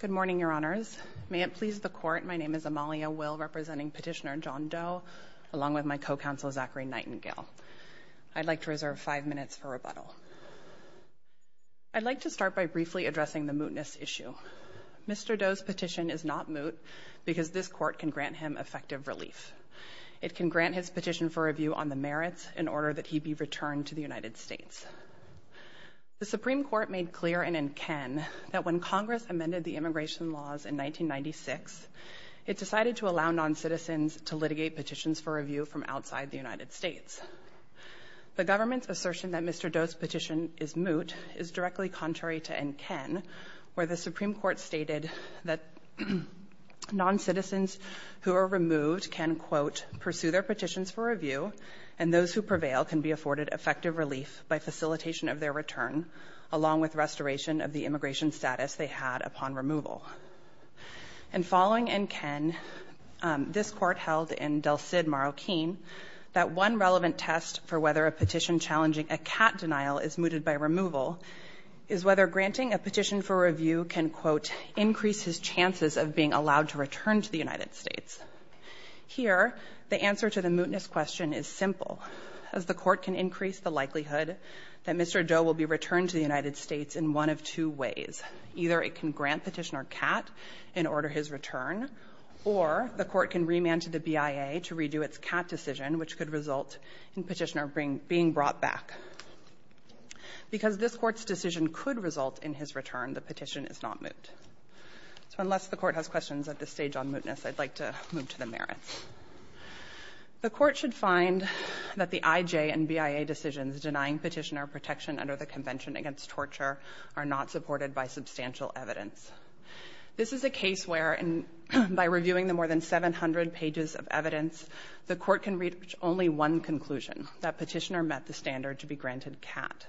Good morning, Your Honors. May it please the Court, my name is Amalia Will, representing Petitioner John Doe, along with my co-counsel, Zachary Nightingale. I'd like to reserve five minutes for rebuttal. I'd like to start by briefly addressing the mootness issue. Mr. Doe's petition is not moot because this Court can grant him effective relief. It can grant his petition for review on the merits in order that he be returned to the United States. The Supreme Court made clear in N. Ken that when Congress amended the immigration laws in 1996, it decided to allow noncitizens to litigate petitions for review from outside the United States. The government's assertion that Mr. Doe's petition is moot is directly contrary to N. Ken, where the Supreme Court stated that noncitizens who are removed can, quote, pursue their petitions for review, and those who prevail can be afforded effective relief by facilitation of their return, along with restoration of the immigration status they had upon removal. And following N. Ken, this Court held in Del Cid, Marroquin, that one relevant test for whether a petition challenging a cat denial is mooted by removal is whether granting a petition for review can, quote, increase his chances of being allowed to return to the United States. The answer is simple, as the Court can increase the likelihood that Mr. Doe will be returned to the United States in one of two ways. Either it can grant Petitioner Cat in order his return, or the Court can remand to the BIA to redo its Cat decision, which could result in Petitioner being brought back. Because this Court's decision could result in his return, the petition is not moot. So unless the Court has questions at this stage on mootness, I'd like to move to the merits. The Court should find that the IJ and BIA decisions denying Petitioner protection under the Convention Against Torture are not supported by substantial evidence. This is a case where, by reviewing the more than 700 pages of evidence, the Court can reach only one conclusion, that Petitioner met the standard to be granted Cat.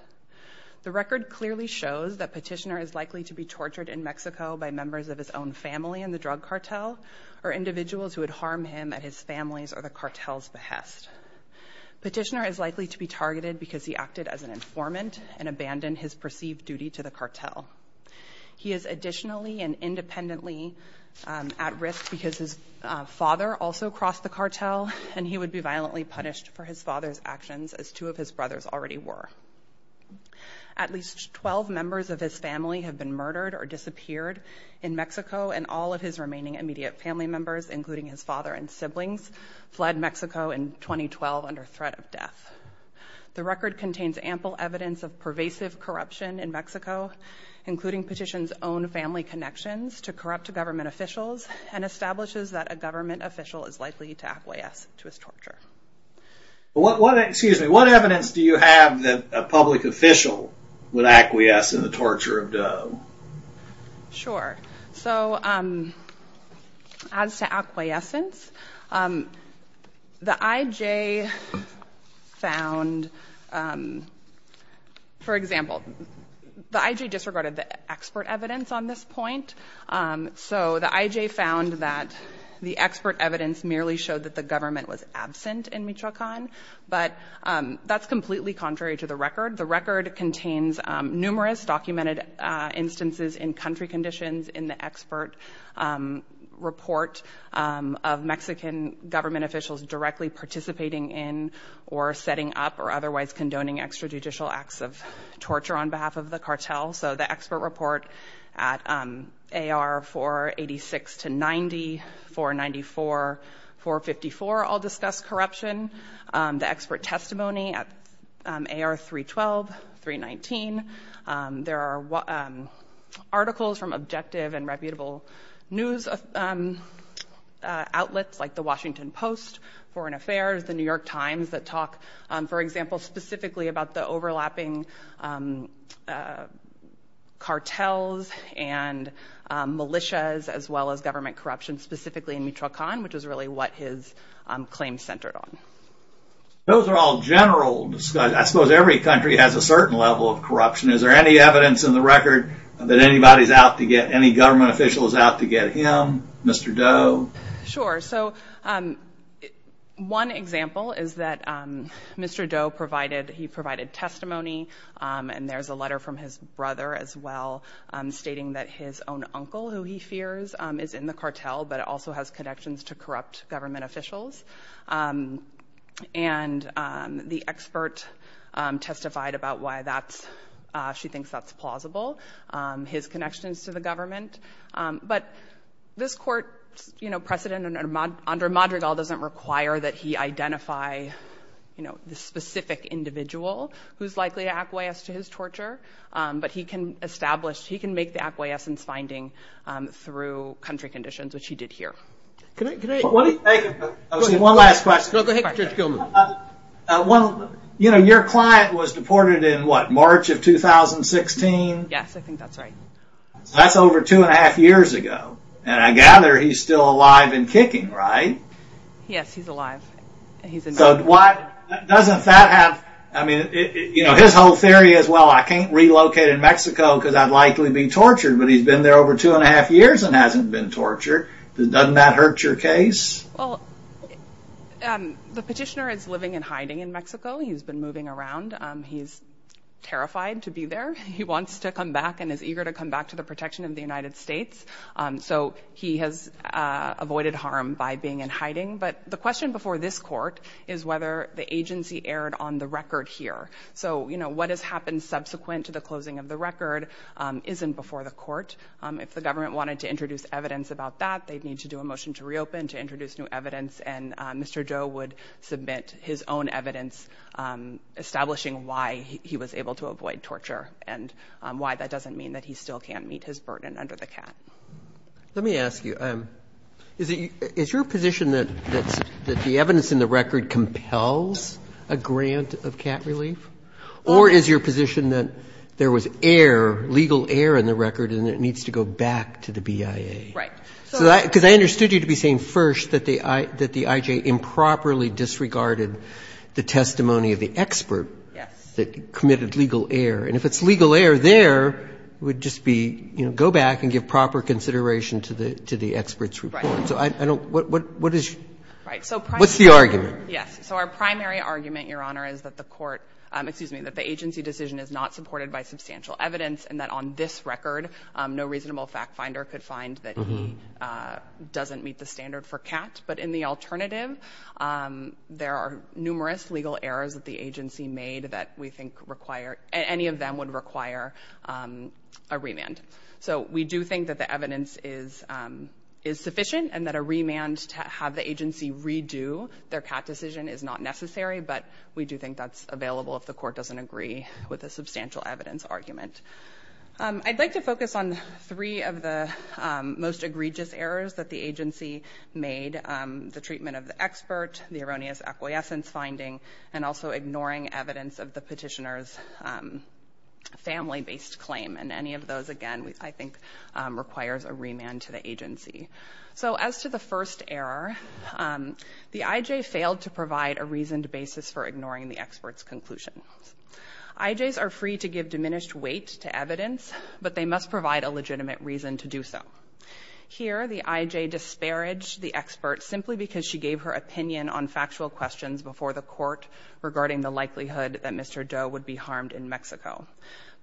The record clearly shows that Petitioner is likely to be tortured in Mexico by members of his own family in the drug cartel, or individuals who would harm him at his family's or the cartel's behest. Petitioner is likely to be targeted because he acted as an informant and abandoned his perceived duty to the cartel. He is additionally and independently at risk because his father also crossed the cartel, and he would be violently punished for his father's actions, as two of his brothers already were. At least 12 members of his family have been murdered or disappeared in Mexico, and all of his remaining immediate family members, including his father and siblings, fled Mexico in 2012 under threat of death. The record contains ample evidence of pervasive corruption in Mexico, including Petitioner's own family connections to corrupt government officials, and establishes that a government official is likely to acquiesce to his torture. What evidence do you have that a public official would acquiesce in the torture of Doe? Sure. So, as to acquiescence, the IJ found, for example, the IJ disregarded the expert evidence on this point, so the IJ found that the expert evidence merely showed that the government was absent in Michoacan, but that's completely contrary to the record. The record contains numerous documented instances in country conditions in the expert report of Mexican government officials directly participating in or setting up or otherwise condoning extrajudicial acts of torture on behalf of the cartel. So, the expert report at AR 486 to 90, 494, 454 all discuss corruption. The expert testimony at AR 312, 319. There are articles from objective and reputable news outlets like the Washington Post, Foreign Affairs, the New York Times that talk, for example, specifically about the overlapping cartels and militias as well as government corruption, specifically in Michoacan, which is really what his claims centered on. Those are all general discussions. I suppose every country has a certain level of corruption. Is there any evidence in the record that any government official is out to get him, Mr. Doe? Sure. So, one example is that Mr. Doe provided testimony, and there's a letter from his brother as well stating that his own uncle, who he fears is in the cartel, but also has connections to corrupt government officials. And the expert testified about why she thinks that's plausible, his connections to the government. But this court precedent under Madrigal doesn't require that he identify the specific individual who's likely to acquiesce to his torture, but he can make the acquiescence finding through country conditions, which he did here. Your client was deported in what, March of 2016? Yes, I think that's right. That's over two and a half years ago. And I gather he's still alive and kicking, right? Yes, he's alive. So, doesn't that have, I mean, his whole theory is, well, I can't relocate in Mexico because I'd likely be tortured, but he's been there over two and a half years and hasn't been tortured. Doesn't that hurt your case? The petitioner is living in hiding in Mexico. He's been moving around. He's terrified to be there. He wants to come back and is eager to come back to the protection of the United The question for this court is whether the agency erred on the record here. So, you know, what has happened subsequent to the closing of the record isn't before the court. If the government wanted to introduce evidence about that, they'd need to do a motion to reopen to introduce new evidence. And Mr. Joe would submit his own evidence establishing why he was able to avoid torture and why that doesn't mean that he still can't meet his burden under the cap. Let me ask you, is your position that the evidence in the record compels a grant of cap relief? Or is your position that there was error, legal error in the record and it needs to go back to the BIA? Right. Because I understood you to be saying first that the IJ improperly disregarded the testimony of the expert that committed legal error. And if it's legal error there, it would just be, you know, go back and give proper consideration to the experts report. Right. So I don't, what is your, what's the argument? Yes. So our primary argument, Your Honor, is that the court, excuse me, that the agency decision is not supported by substantial evidence and that on this record no reasonable fact finder could find that he doesn't meet the standard for cat. But in the alternative, there are numerous legal errors that the agency made that we think require, any of them would require a remand. So we do think that the evidence is sufficient and that a remand to have the agency redo their cat decision is not necessary, but we do think that's available if the court doesn't agree with a substantial evidence argument. I'd like to focus on three of the most egregious errors that the agency made. The treatment of the expert, the erroneous acquiescence finding, and also ignoring evidence of the family-based claim. And any of those, again, I think requires a remand to the agency. So as to the first error, the IJ failed to provide a reasoned basis for ignoring the expert's conclusion. IJs are free to give diminished weight to evidence, but they must provide a legitimate reason to do so. Here, the IJ disparaged the expert simply because she gave her opinion on factual questions before the court regarding the likelihood that Mr. Doe would be harmed in Mexico.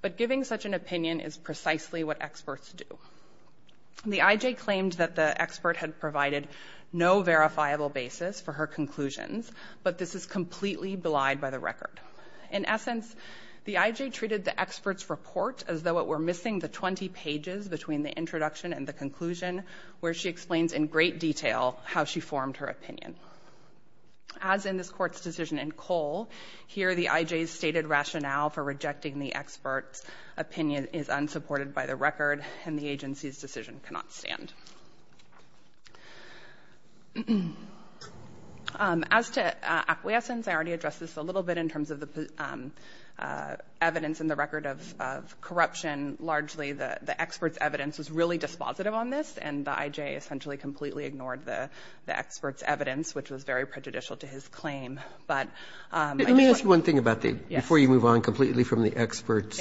But giving such an opinion is precisely what experts do. The IJ claimed that the expert had provided no verifiable basis for her conclusions, but this is completely belied by the record. In essence, the IJ treated the expert's report as though it were missing the 20 pages between the introduction and the conclusion where she explains in great detail how she formed her opinion. As in this court's decision in Cole, here the IJ's stated rationale for rejecting the expert's opinion is unsupported by the record, and the agency's decision cannot stand. As to acquiescence, I already addressed this a little bit in terms of the evidence in the record of corruption. Largely, the expert's evidence was really dispositive on this, and the IJ essentially completely ignored the expert's evidence, which was very prejudicial to his claim. But I just want to say one thing about the, before you move on completely from the expert's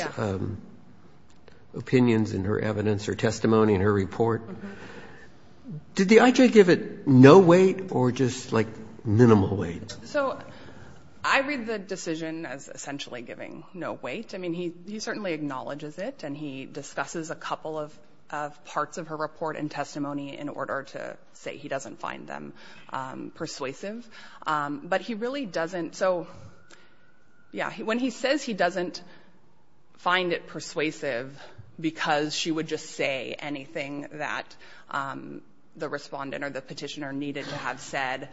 opinions and her evidence or testimony in her report, did the IJ give it no weight or just like minimal weight? So I read the decision as essentially giving no weight. I mean, he certainly acknowledges it and he discusses a couple of parts of her report and testimony in order to say he doesn't find them persuasive. But he really doesn't. So, yeah, when he says he doesn't find it persuasive because she would just say anything that the Respondent or the Petitioner needed to have said,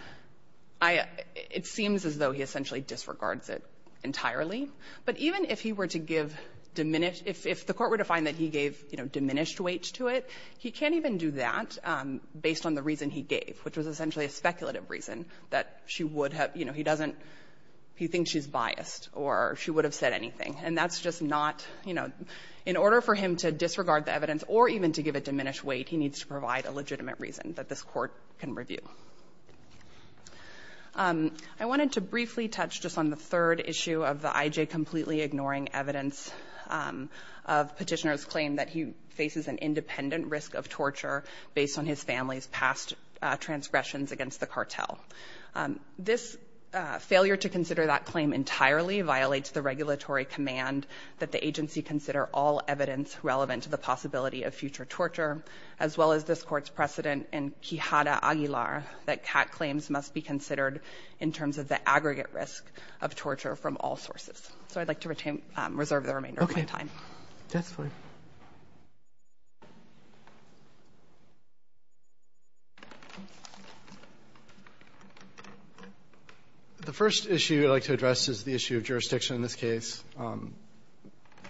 I — it seems as though he essentially disregards it entirely. But even if he were to give diminished — if the Court were to find that he gave, you know, no weight to it, he can't even do that based on the reason he gave, which was essentially a speculative reason that she would have — you know, he doesn't — he thinks she's biased or she would have said anything. And that's just not — you know, in order for him to disregard the evidence or even to give it diminished weight, he needs to provide a legitimate reason that this Court can review. I wanted to briefly touch just on the third issue of the IJ completely ignoring evidence of Petitioner's claim that he faces an independent risk of torture based on his family's past transgressions against the cartel. This failure to consider that claim entirely violates the regulatory command that the agency consider all evidence relevant to the possibility of future torture, as well as this Court's precedent in Quijada Aguilar that CAT claims must be considered in terms of the aggregate risk of torture from all sources. So I'd like to retain — reserve the remainder of my time. The first issue I'd like to address is the issue of jurisdiction in this case.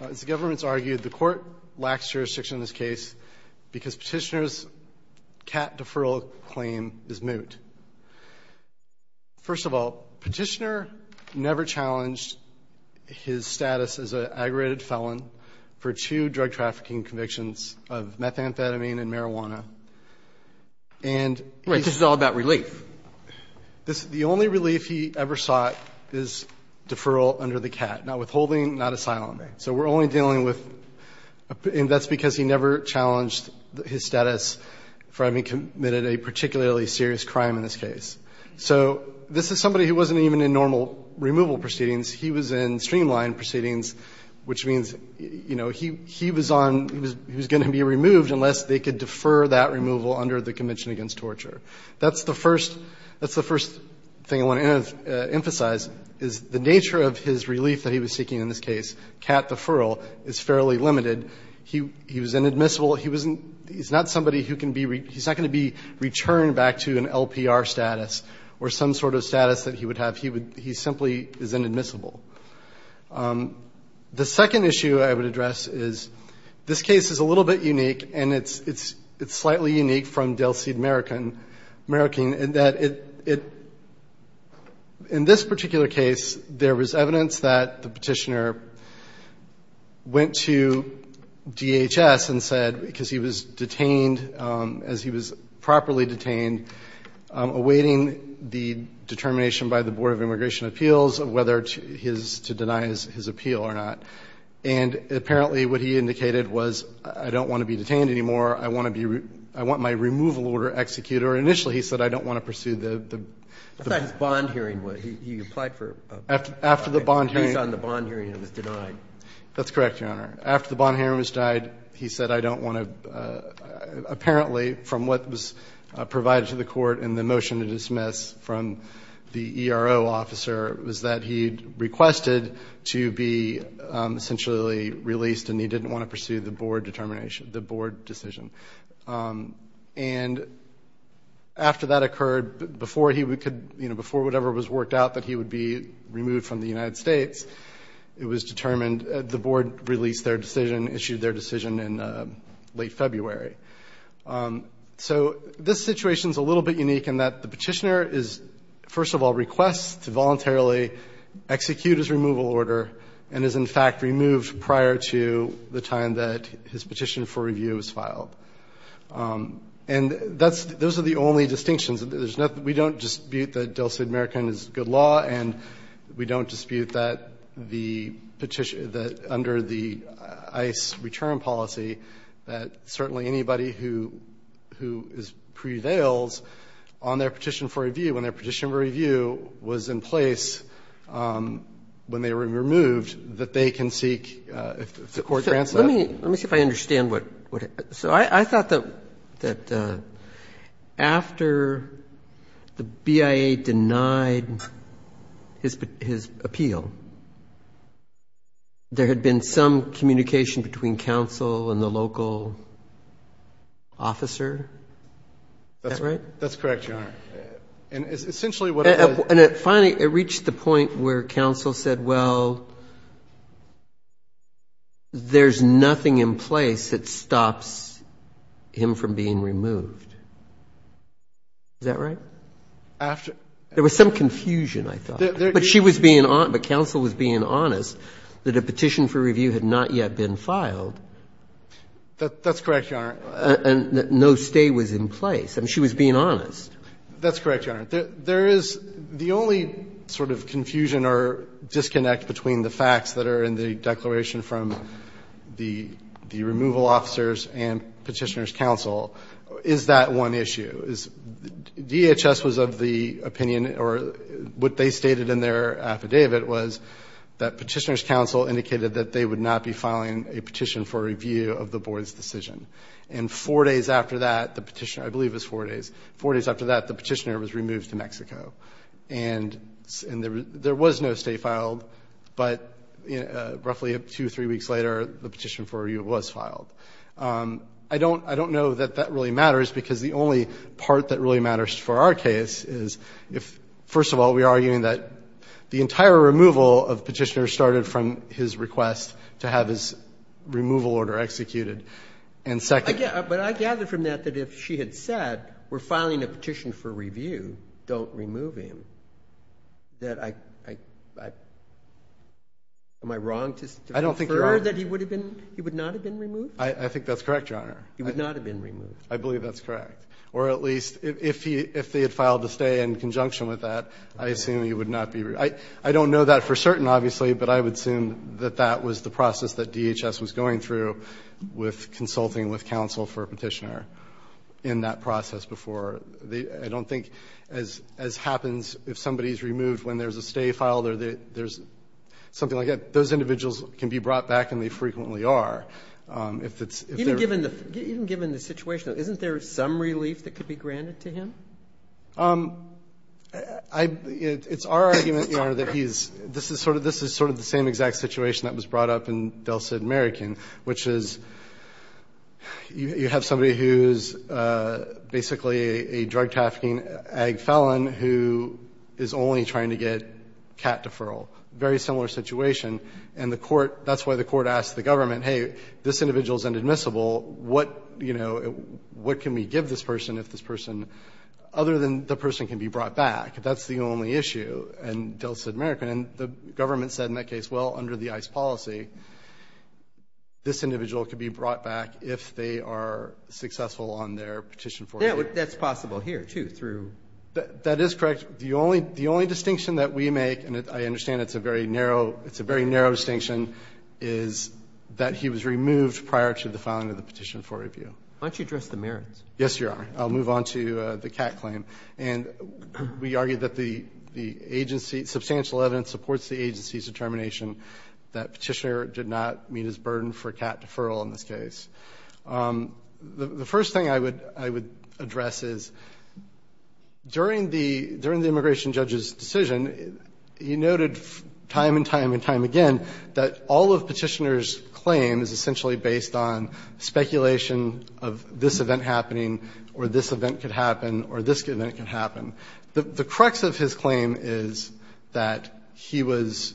As the government's argued, the Court lacks jurisdiction in this case because Petitioner's CAT deferral claim is moot. First of all, Petitioner never challenged his status as an aggregated felon for two drug-trafficking convictions of methamphetamine and marijuana. And — Right. This is all about relief. The only relief he ever sought is deferral under the CAT, not withholding, not asylum. So we're only dealing with — and that's because he never challenged his status for having committed a particularly serious crime in this case. So this is somebody who wasn't even in normal removal proceedings. He was in streamlined proceedings, which means, you know, he was on — he was going to be removed unless they could defer that removal under the Convention Against Torture. That's the first — that's the first thing I want to emphasize, is the nature of his relief that he was seeking in this case, CAT deferral, is fairly limited. He was inadmissible. He wasn't — he's not somebody who can be — he's not going to be returned back to an LPR status or some sort of status that he would have. He would — he simply is inadmissible. The second issue I would address is this case is a little bit unique, and it's — it's slightly unique from Dale Seed-Merican — Merican, in that it — in this particular case, there was evidence that the Petitioner went to DHS and said, because he was detained — as he was properly detained, awaiting the determination by the Board of Immigration Appeals of whether to — his — to deny his appeal or not. And apparently what he indicated was, I don't want to be detained anymore, I want to be — I want my removal order executed. Or initially, he said, I don't want to pursue the — the case on the bond hearing that was denied. That's correct, Your Honor. After the bond hearing was denied, he said, I don't want to — apparently, from what was provided to the Court in the motion to dismiss from the ERO officer, was that he requested to be essentially released, and he didn't want to pursue the Board determination — the Board decision. And after that occurred, before he could — before whatever was worked out that he would be removed from the United States, it was determined — the Board released their decision, issued their decision in late February. So this situation is a little bit unique in that the Petitioner is, first of all, requests to voluntarily execute his removal order, and is in fact removed prior to the time that his petition for review was filed. And that's — those are the only distinctions. There's nothing — we don't dispute that Dulcet American is good law, and we don't dispute that the petition — that under the ICE return policy, that certainly anybody who — who prevails on their petition for review, when their petition for review was in place when they were removed, that they can seek, if the Court grants that. Let me — let me see if I understand what — so I thought that after the BIA denied his appeal, there had been some communication between counsel and the local officer? That's right? That's correct, Your Honor. And essentially what — And it finally — it reached the point where counsel said, well, there's nothing in place that stops him from being removed. Is that right? After — There was some confusion, I thought. But she was being — but counsel was being honest that a petition for review had not yet been filed. That's correct, Your Honor. And no stay was in place. I mean, she was being honest. That's correct, Your Honor. There is — the only sort of confusion or disconnect between the facts that are in the declaration from the removal officers and Petitioner's counsel is that one issue. DHS was of the opinion, or what they stated in their opinion, that the petition for review of the board's decision. And four days after that, the Petitioner — I believe it was four days — four days after that, the Petitioner was removed to Mexico. And there was no stay filed. But roughly two or three weeks later, the petition for review was filed. I don't know that that really matters, because the only part that really matters for our case is if — first of all, we are arguing that the entire removal of Petitioner started from his request to have his removal order executed. And second — But I gather from that that if she had said, we're filing a petition for review, don't remove him, that I — am I wrong to prefer that he would have been — he would not have been removed? I think that's correct, Your Honor. He would not have been removed. I believe that's correct. Or at least, if he — if they had filed a stay in conjunction with that, I assume he would not be — I don't know that for certain, obviously, but I would assume that that was the process that DHS was going through with consulting with counsel for Petitioner in that process before. I don't think, as happens if somebody is removed when there's a stay filed or there's something like that, those individuals can be brought back and they frequently are. If it's — Even given the situation, isn't there some relief that could be granted to him? I — it's our argument, Your Honor, that he's — this is sort of the same exact situation that was brought up in Del Cid American, which is you have somebody who's basically a drug trafficking ag felon who is only trying to get cat deferral. It's a very similar situation. And the court — that's why the court asked the government, hey, this individual is inadmissible. What, you know, what can we give this person if this person — other than the person can be brought back? That's the only issue in Del Cid American. And the government said in that case, well, under the ICE policy, this individual could be brought back if they are successful on their petition for remission. That's possible here, too, through — That is correct. The only — the only distinction that we make, and I understand it's a very narrow — it's a very narrow distinction, is that he was removed prior to the filing of the petition for review. Why don't you address the merits? Yes, Your Honor. I'll move on to the cat claim. And we argue that the agency — substantial evidence supports the agency's determination that Petitioner did not meet his burden for cat deferral in this case. The first thing I would address is, during the immigration judge's decision, he noted time and time and time again that all of Petitioner's claim is essentially based on speculation of this event happening or this event could happen or this event could happen. The crux of his claim is that he was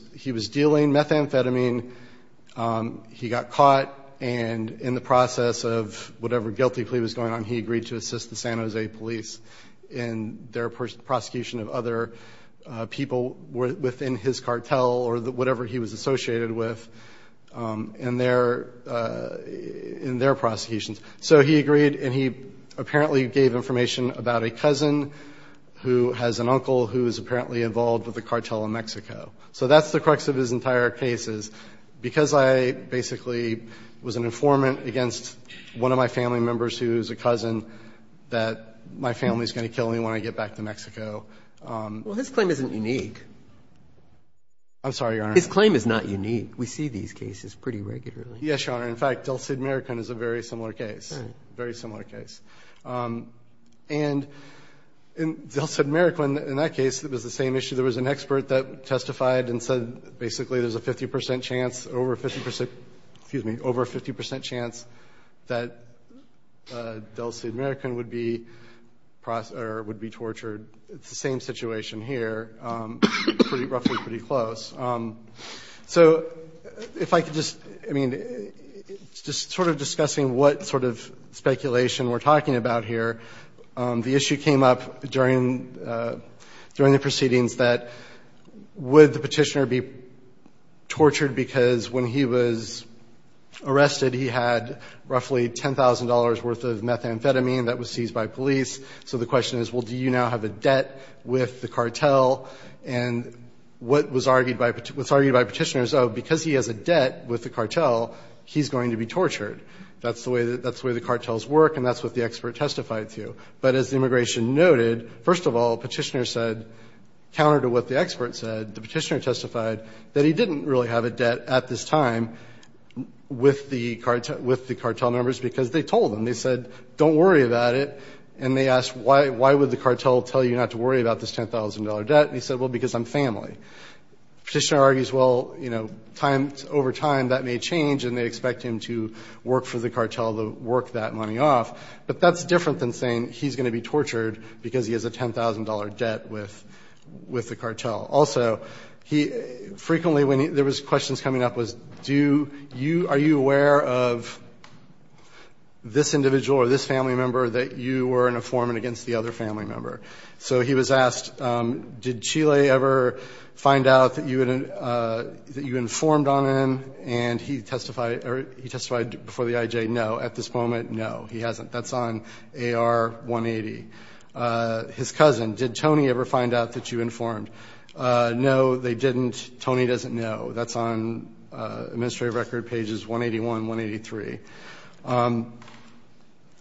dealing methamphetamine, he got caught, and in the process of whatever guilty plea was going on, he agreed to assist the San Jose police in their prosecution of other people within his cartel or whatever he was associated with in their prosecutions. So he agreed, and he apparently gave information about a cousin who has an uncle who is apparently involved with a cartel in Mexico. So that's the crux of his entire case is, because I basically was an informant against one of my family members who is a cousin, that my family is going to kill me when I get back to Mexico. Well, his claim isn't unique. I'm sorry, Your Honor. His claim is not unique. We see these cases pretty regularly. Yes, Your Honor. In fact, Del Cid, Maricón is a very similar case, very similar case. And in Del Cid, Maricón, in that case, it was the same issue. There was an expert that testified and said basically there's a 50 percent chance excuse me, over a 50 percent chance that Del Cid, Maricón would be tortured. It's the same situation here, roughly pretty close. So if I could just, I mean, just sort of discussing what sort of speculation we're talking about here, the issue came up during the proceedings that would the petitioner be tortured because when he was arrested, he had roughly $10,000 worth of methamphetamine that was seized by police. So the question is, well, do you now have a debt with the cartel? And what was argued by petitioners, oh, because he has a debt with the cartel, he's going to be tortured. That's the way the cartels work, and that's what the expert testified to. But as the immigration noted, first of all, the petitioner said, counter to what the expert said, the petitioner testified that he didn't really have a debt at this time with the cartel members because they told him, they said, don't worry about it, and they asked why would the cartel tell you not to worry about this $10,000 debt, and he said, well, because I'm family. The petitioner argues, well, you know, over time that may change and they expect him to work for the cartel to work that money off, but that's different than saying he's going to be tortured because he has a $10,000 debt with the cartel. Also, frequently when there was questions coming up was, are you aware of this individual or this family member that you were an informant against the other family member? So he was asked, did Chile ever find out that you informed on him, and he testified before the IJ, no, at this moment, no, he hasn't. That's on AR-180. His cousin, did Tony ever find out that you informed? No, they didn't. Tony doesn't know. That's on Administrative Record pages 181, 183.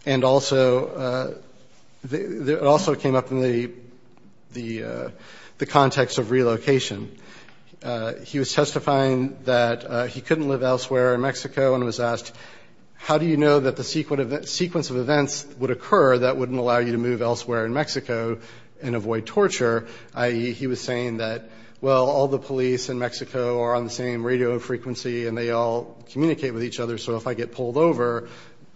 And also, it also came up in the context of relocation. He was testifying that he couldn't live elsewhere in Mexico and was asked, how do you know that the sequence of events would occur that wouldn't allow you to move elsewhere in Mexico and avoid torture? He was saying that, well, all the police in Mexico are on the same radio frequency and they all communicate with each other, so if I get pulled over,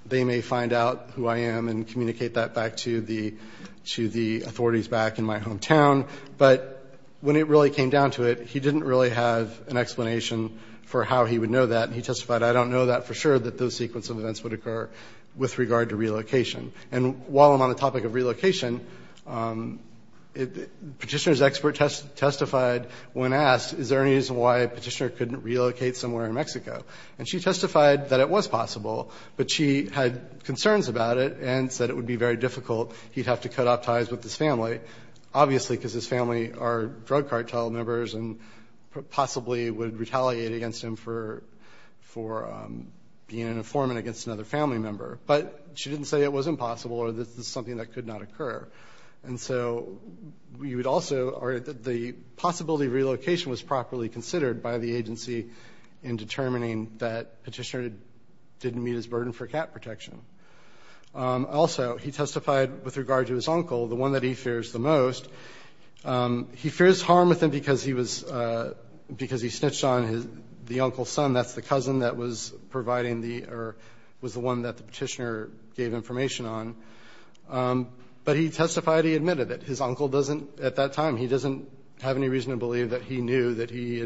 they may find out who I am and communicate that back to the authorities back in my hometown. But when it really came down to it, he didn't really have an explanation for how he would know that. He testified, I don't know that for sure that those sequence of events would occur with regard to relocation. And while I'm on the topic of relocation, Petitioner's expert testified when asked, is there any reason why Petitioner couldn't relocate somewhere in Mexico? And she testified that it was possible, but she had concerns about it and said it would be very difficult. He'd have to cut off ties with his family, obviously, because his family are drug cartel members and possibly would retaliate against him for being an informant against another family member. But she didn't say it was impossible or that this is something that could not occur. The possibility of relocation was properly considered by the agency in determining that Petitioner didn't meet his burden for cat protection. Also, he testified with regard to his uncle, the one that he fears the most. He fears harm with him because he snitched on the uncle's son. That's the cousin that was providing the, or was the one that the Petitioner gave information on. But he testified he admitted it. His uncle doesn't, at that time, he doesn't have any reason to believe that he knew that he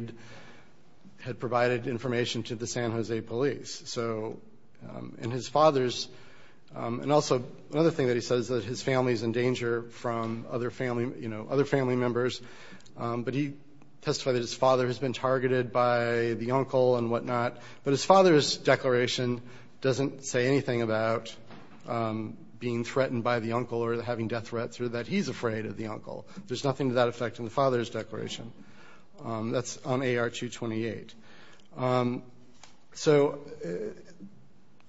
had provided information to the San Jose police. And his father's, and also another thing that he says is that his family's in danger from other family members. But he testified that his father has been targeted by the uncle and whatnot. But his father's declaration doesn't say anything about being threatened by the uncle or having death threats or that he's afraid of the uncle. There's nothing to that effect in the father's declaration. That's on AR-228. So,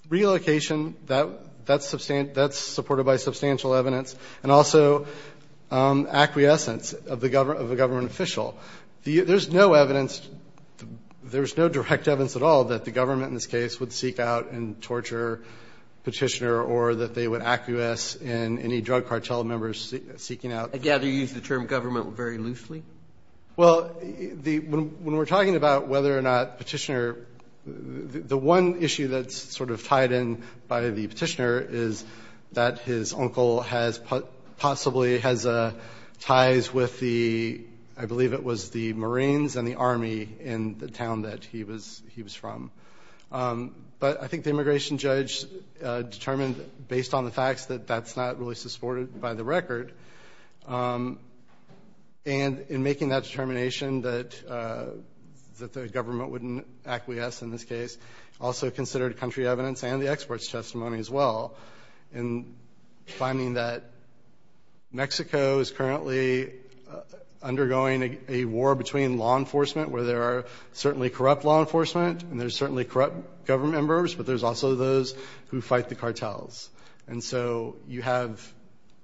relocation, that's supported by substantial evidence. And also, acquiescence of the government official. There's no evidence, there's no direct evidence at all that the government, in this case, would seek out and torture Petitioner or that they would acquiesce in any drug cartel members seeking out. I gather you use the term government very loosely. Well, when we're talking about whether or not Petitioner, the one issue that's sort of tied in by the Petitioner is that his uncle possibly has ties with the, I believe it was the Marines and the Army in the town that he was from. But I think the immigration judge determined, based on the facts, that that's not really supported by the record. And in making that determination that the government wouldn't acquiesce in this case, also considered country evidence and the experts' testimony as well in finding that Mexico is currently undergoing a war between law enforcement, where there are certainly corrupt law enforcement and there's certainly corrupt government members, but there's also those who fight the cartels.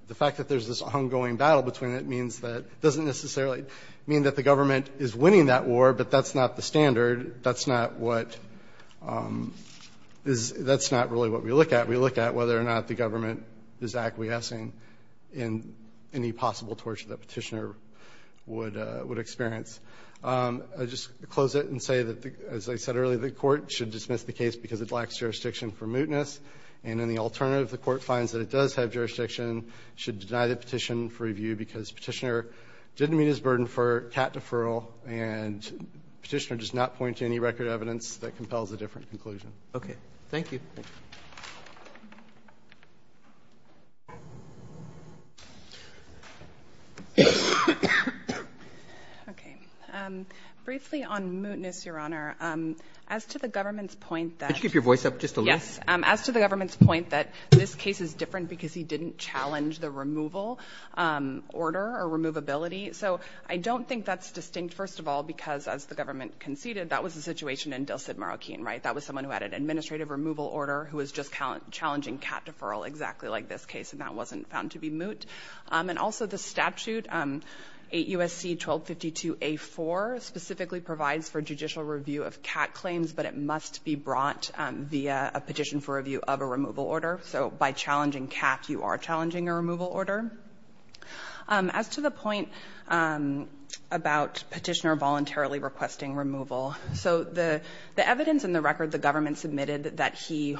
The fact that there's this ongoing battle between it doesn't necessarily mean that the government is winning that war, but that's not the standard. That's not really what we look at. We look at whether or not the government is acquiescing in any possible torture that Petitioner would experience. I'll just close it and say that, as I said earlier, the Court should dismiss the case because it lacks jurisdiction for mootness. And then the alternative, if the Court finds that it does have jurisdiction, should deny the petition for review because Petitioner didn't meet his burden for cat deferral and Petitioner does not point to any record evidence that compels a different conclusion. Briefly on mootness, Your Honor, as to the government's point that... Could you keep your voice up just a little? Yes. As to the government's point that this case is different because he didn't challenge the removal order or removability. So I don't think that's distinct, first of all, because, as the government conceded, that was the situation in Del Cid, Marroquin, right? 8 U.S.C. 1252A4 specifically provides for judicial review of cat claims, but it must be brought via a petition for review of a removal order. So by challenging cat, you are challenging a removal order. As to the point about Petitioner voluntarily requesting removal, the evidence in the record the government submitted that he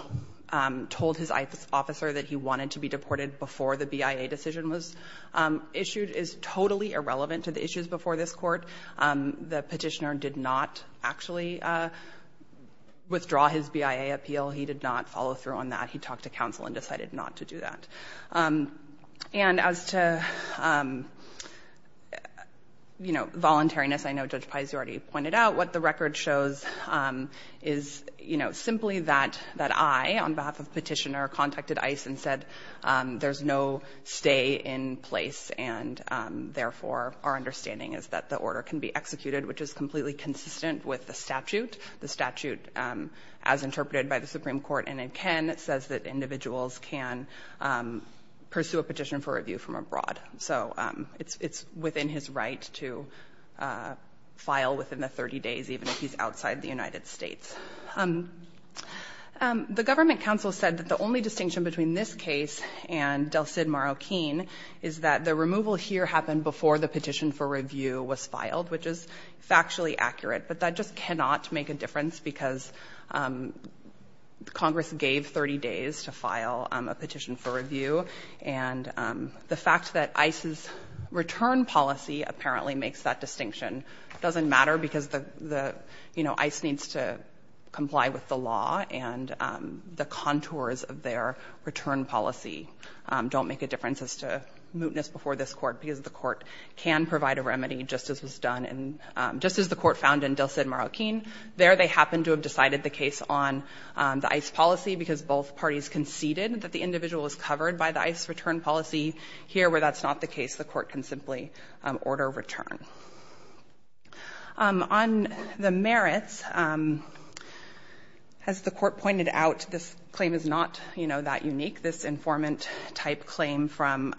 told his officer that he wanted to be deported before the BIA decision was issued is totally irrelevant to the issues before this Court. The Petitioner did not actually withdraw his BIA appeal. He did not follow through on that. He talked to counsel and decided not to do that. And as to, you know, voluntariness, I know Judge Pais, you already pointed out, what the record shows is, you know, simply that I, on behalf of Petitioner, contacted ICE and said there's no stay in place, and therefore our understanding is that the order can be executed, which is completely consistent with the statute. The statute, as interpreted by the Supreme Court and in Ken, says that individuals can pursue a petition for review from abroad. So it's within his right to file within the 30 days, even if he's outside the United States. The government counsel said that the only distinction between this case and Del Cid Marroquin is that the removal here happened before the petition for review was filed, which is factually accurate, but that just cannot make a difference, because Congress gave 30 days to file a petition for review. And the fact that ICE's return policy apparently makes that distinction doesn't matter, because the, you know, ICE needs to comply with the law, and the contours of their return policy don't make a difference as to mootness before this Court, because the Court can provide a remedy, just as was done in, just as the Court found in Del Cid Marroquin. There they happened to have decided the case on the ICE policy, because both parties conceded that the individual was covered by the ICE return policy. Here, where that's not the case, the Court can simply order a return. On the merits, as the Court pointed out, this claim is not, you know, that unique. This informant-type claim from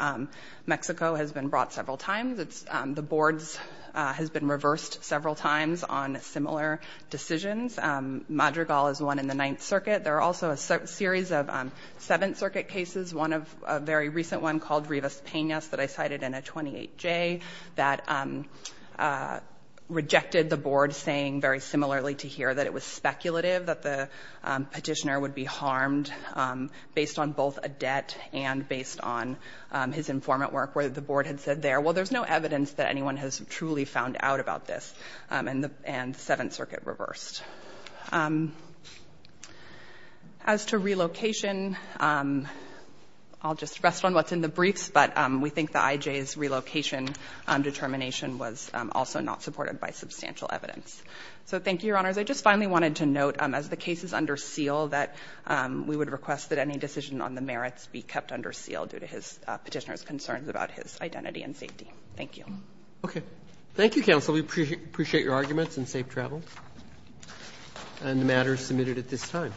Mexico has been brought several times. It's the board's has been reversed several times on similar decisions. Madrigal is one in the Ninth Circuit. There are also a series of Seventh Circuit cases, one of a very recent one called Rivas-Penas, that I cited in a 28-J, that rejected the board saying, very similarly to here, that it was speculative, that the petitioner would be harmed based on both a debt and based on his informant work, where the board had said there, well, there's no evidence that anyone has truly found out about this, and Seventh Circuit reversed. As to relocation, I'll just rest on what's in the briefs, but we think the IJ's relocation determination was also not supported by substantial evidence. So thank you, Your Honors. I just finally wanted to note, as the case is under seal, that we would request that any decision on the merits be kept under seal due to his petitioner's concerns about his identity and safety. Thank you. Roberts. Thank you, counsel. We appreciate your arguments and safe travels. And the matter is submitted at this time.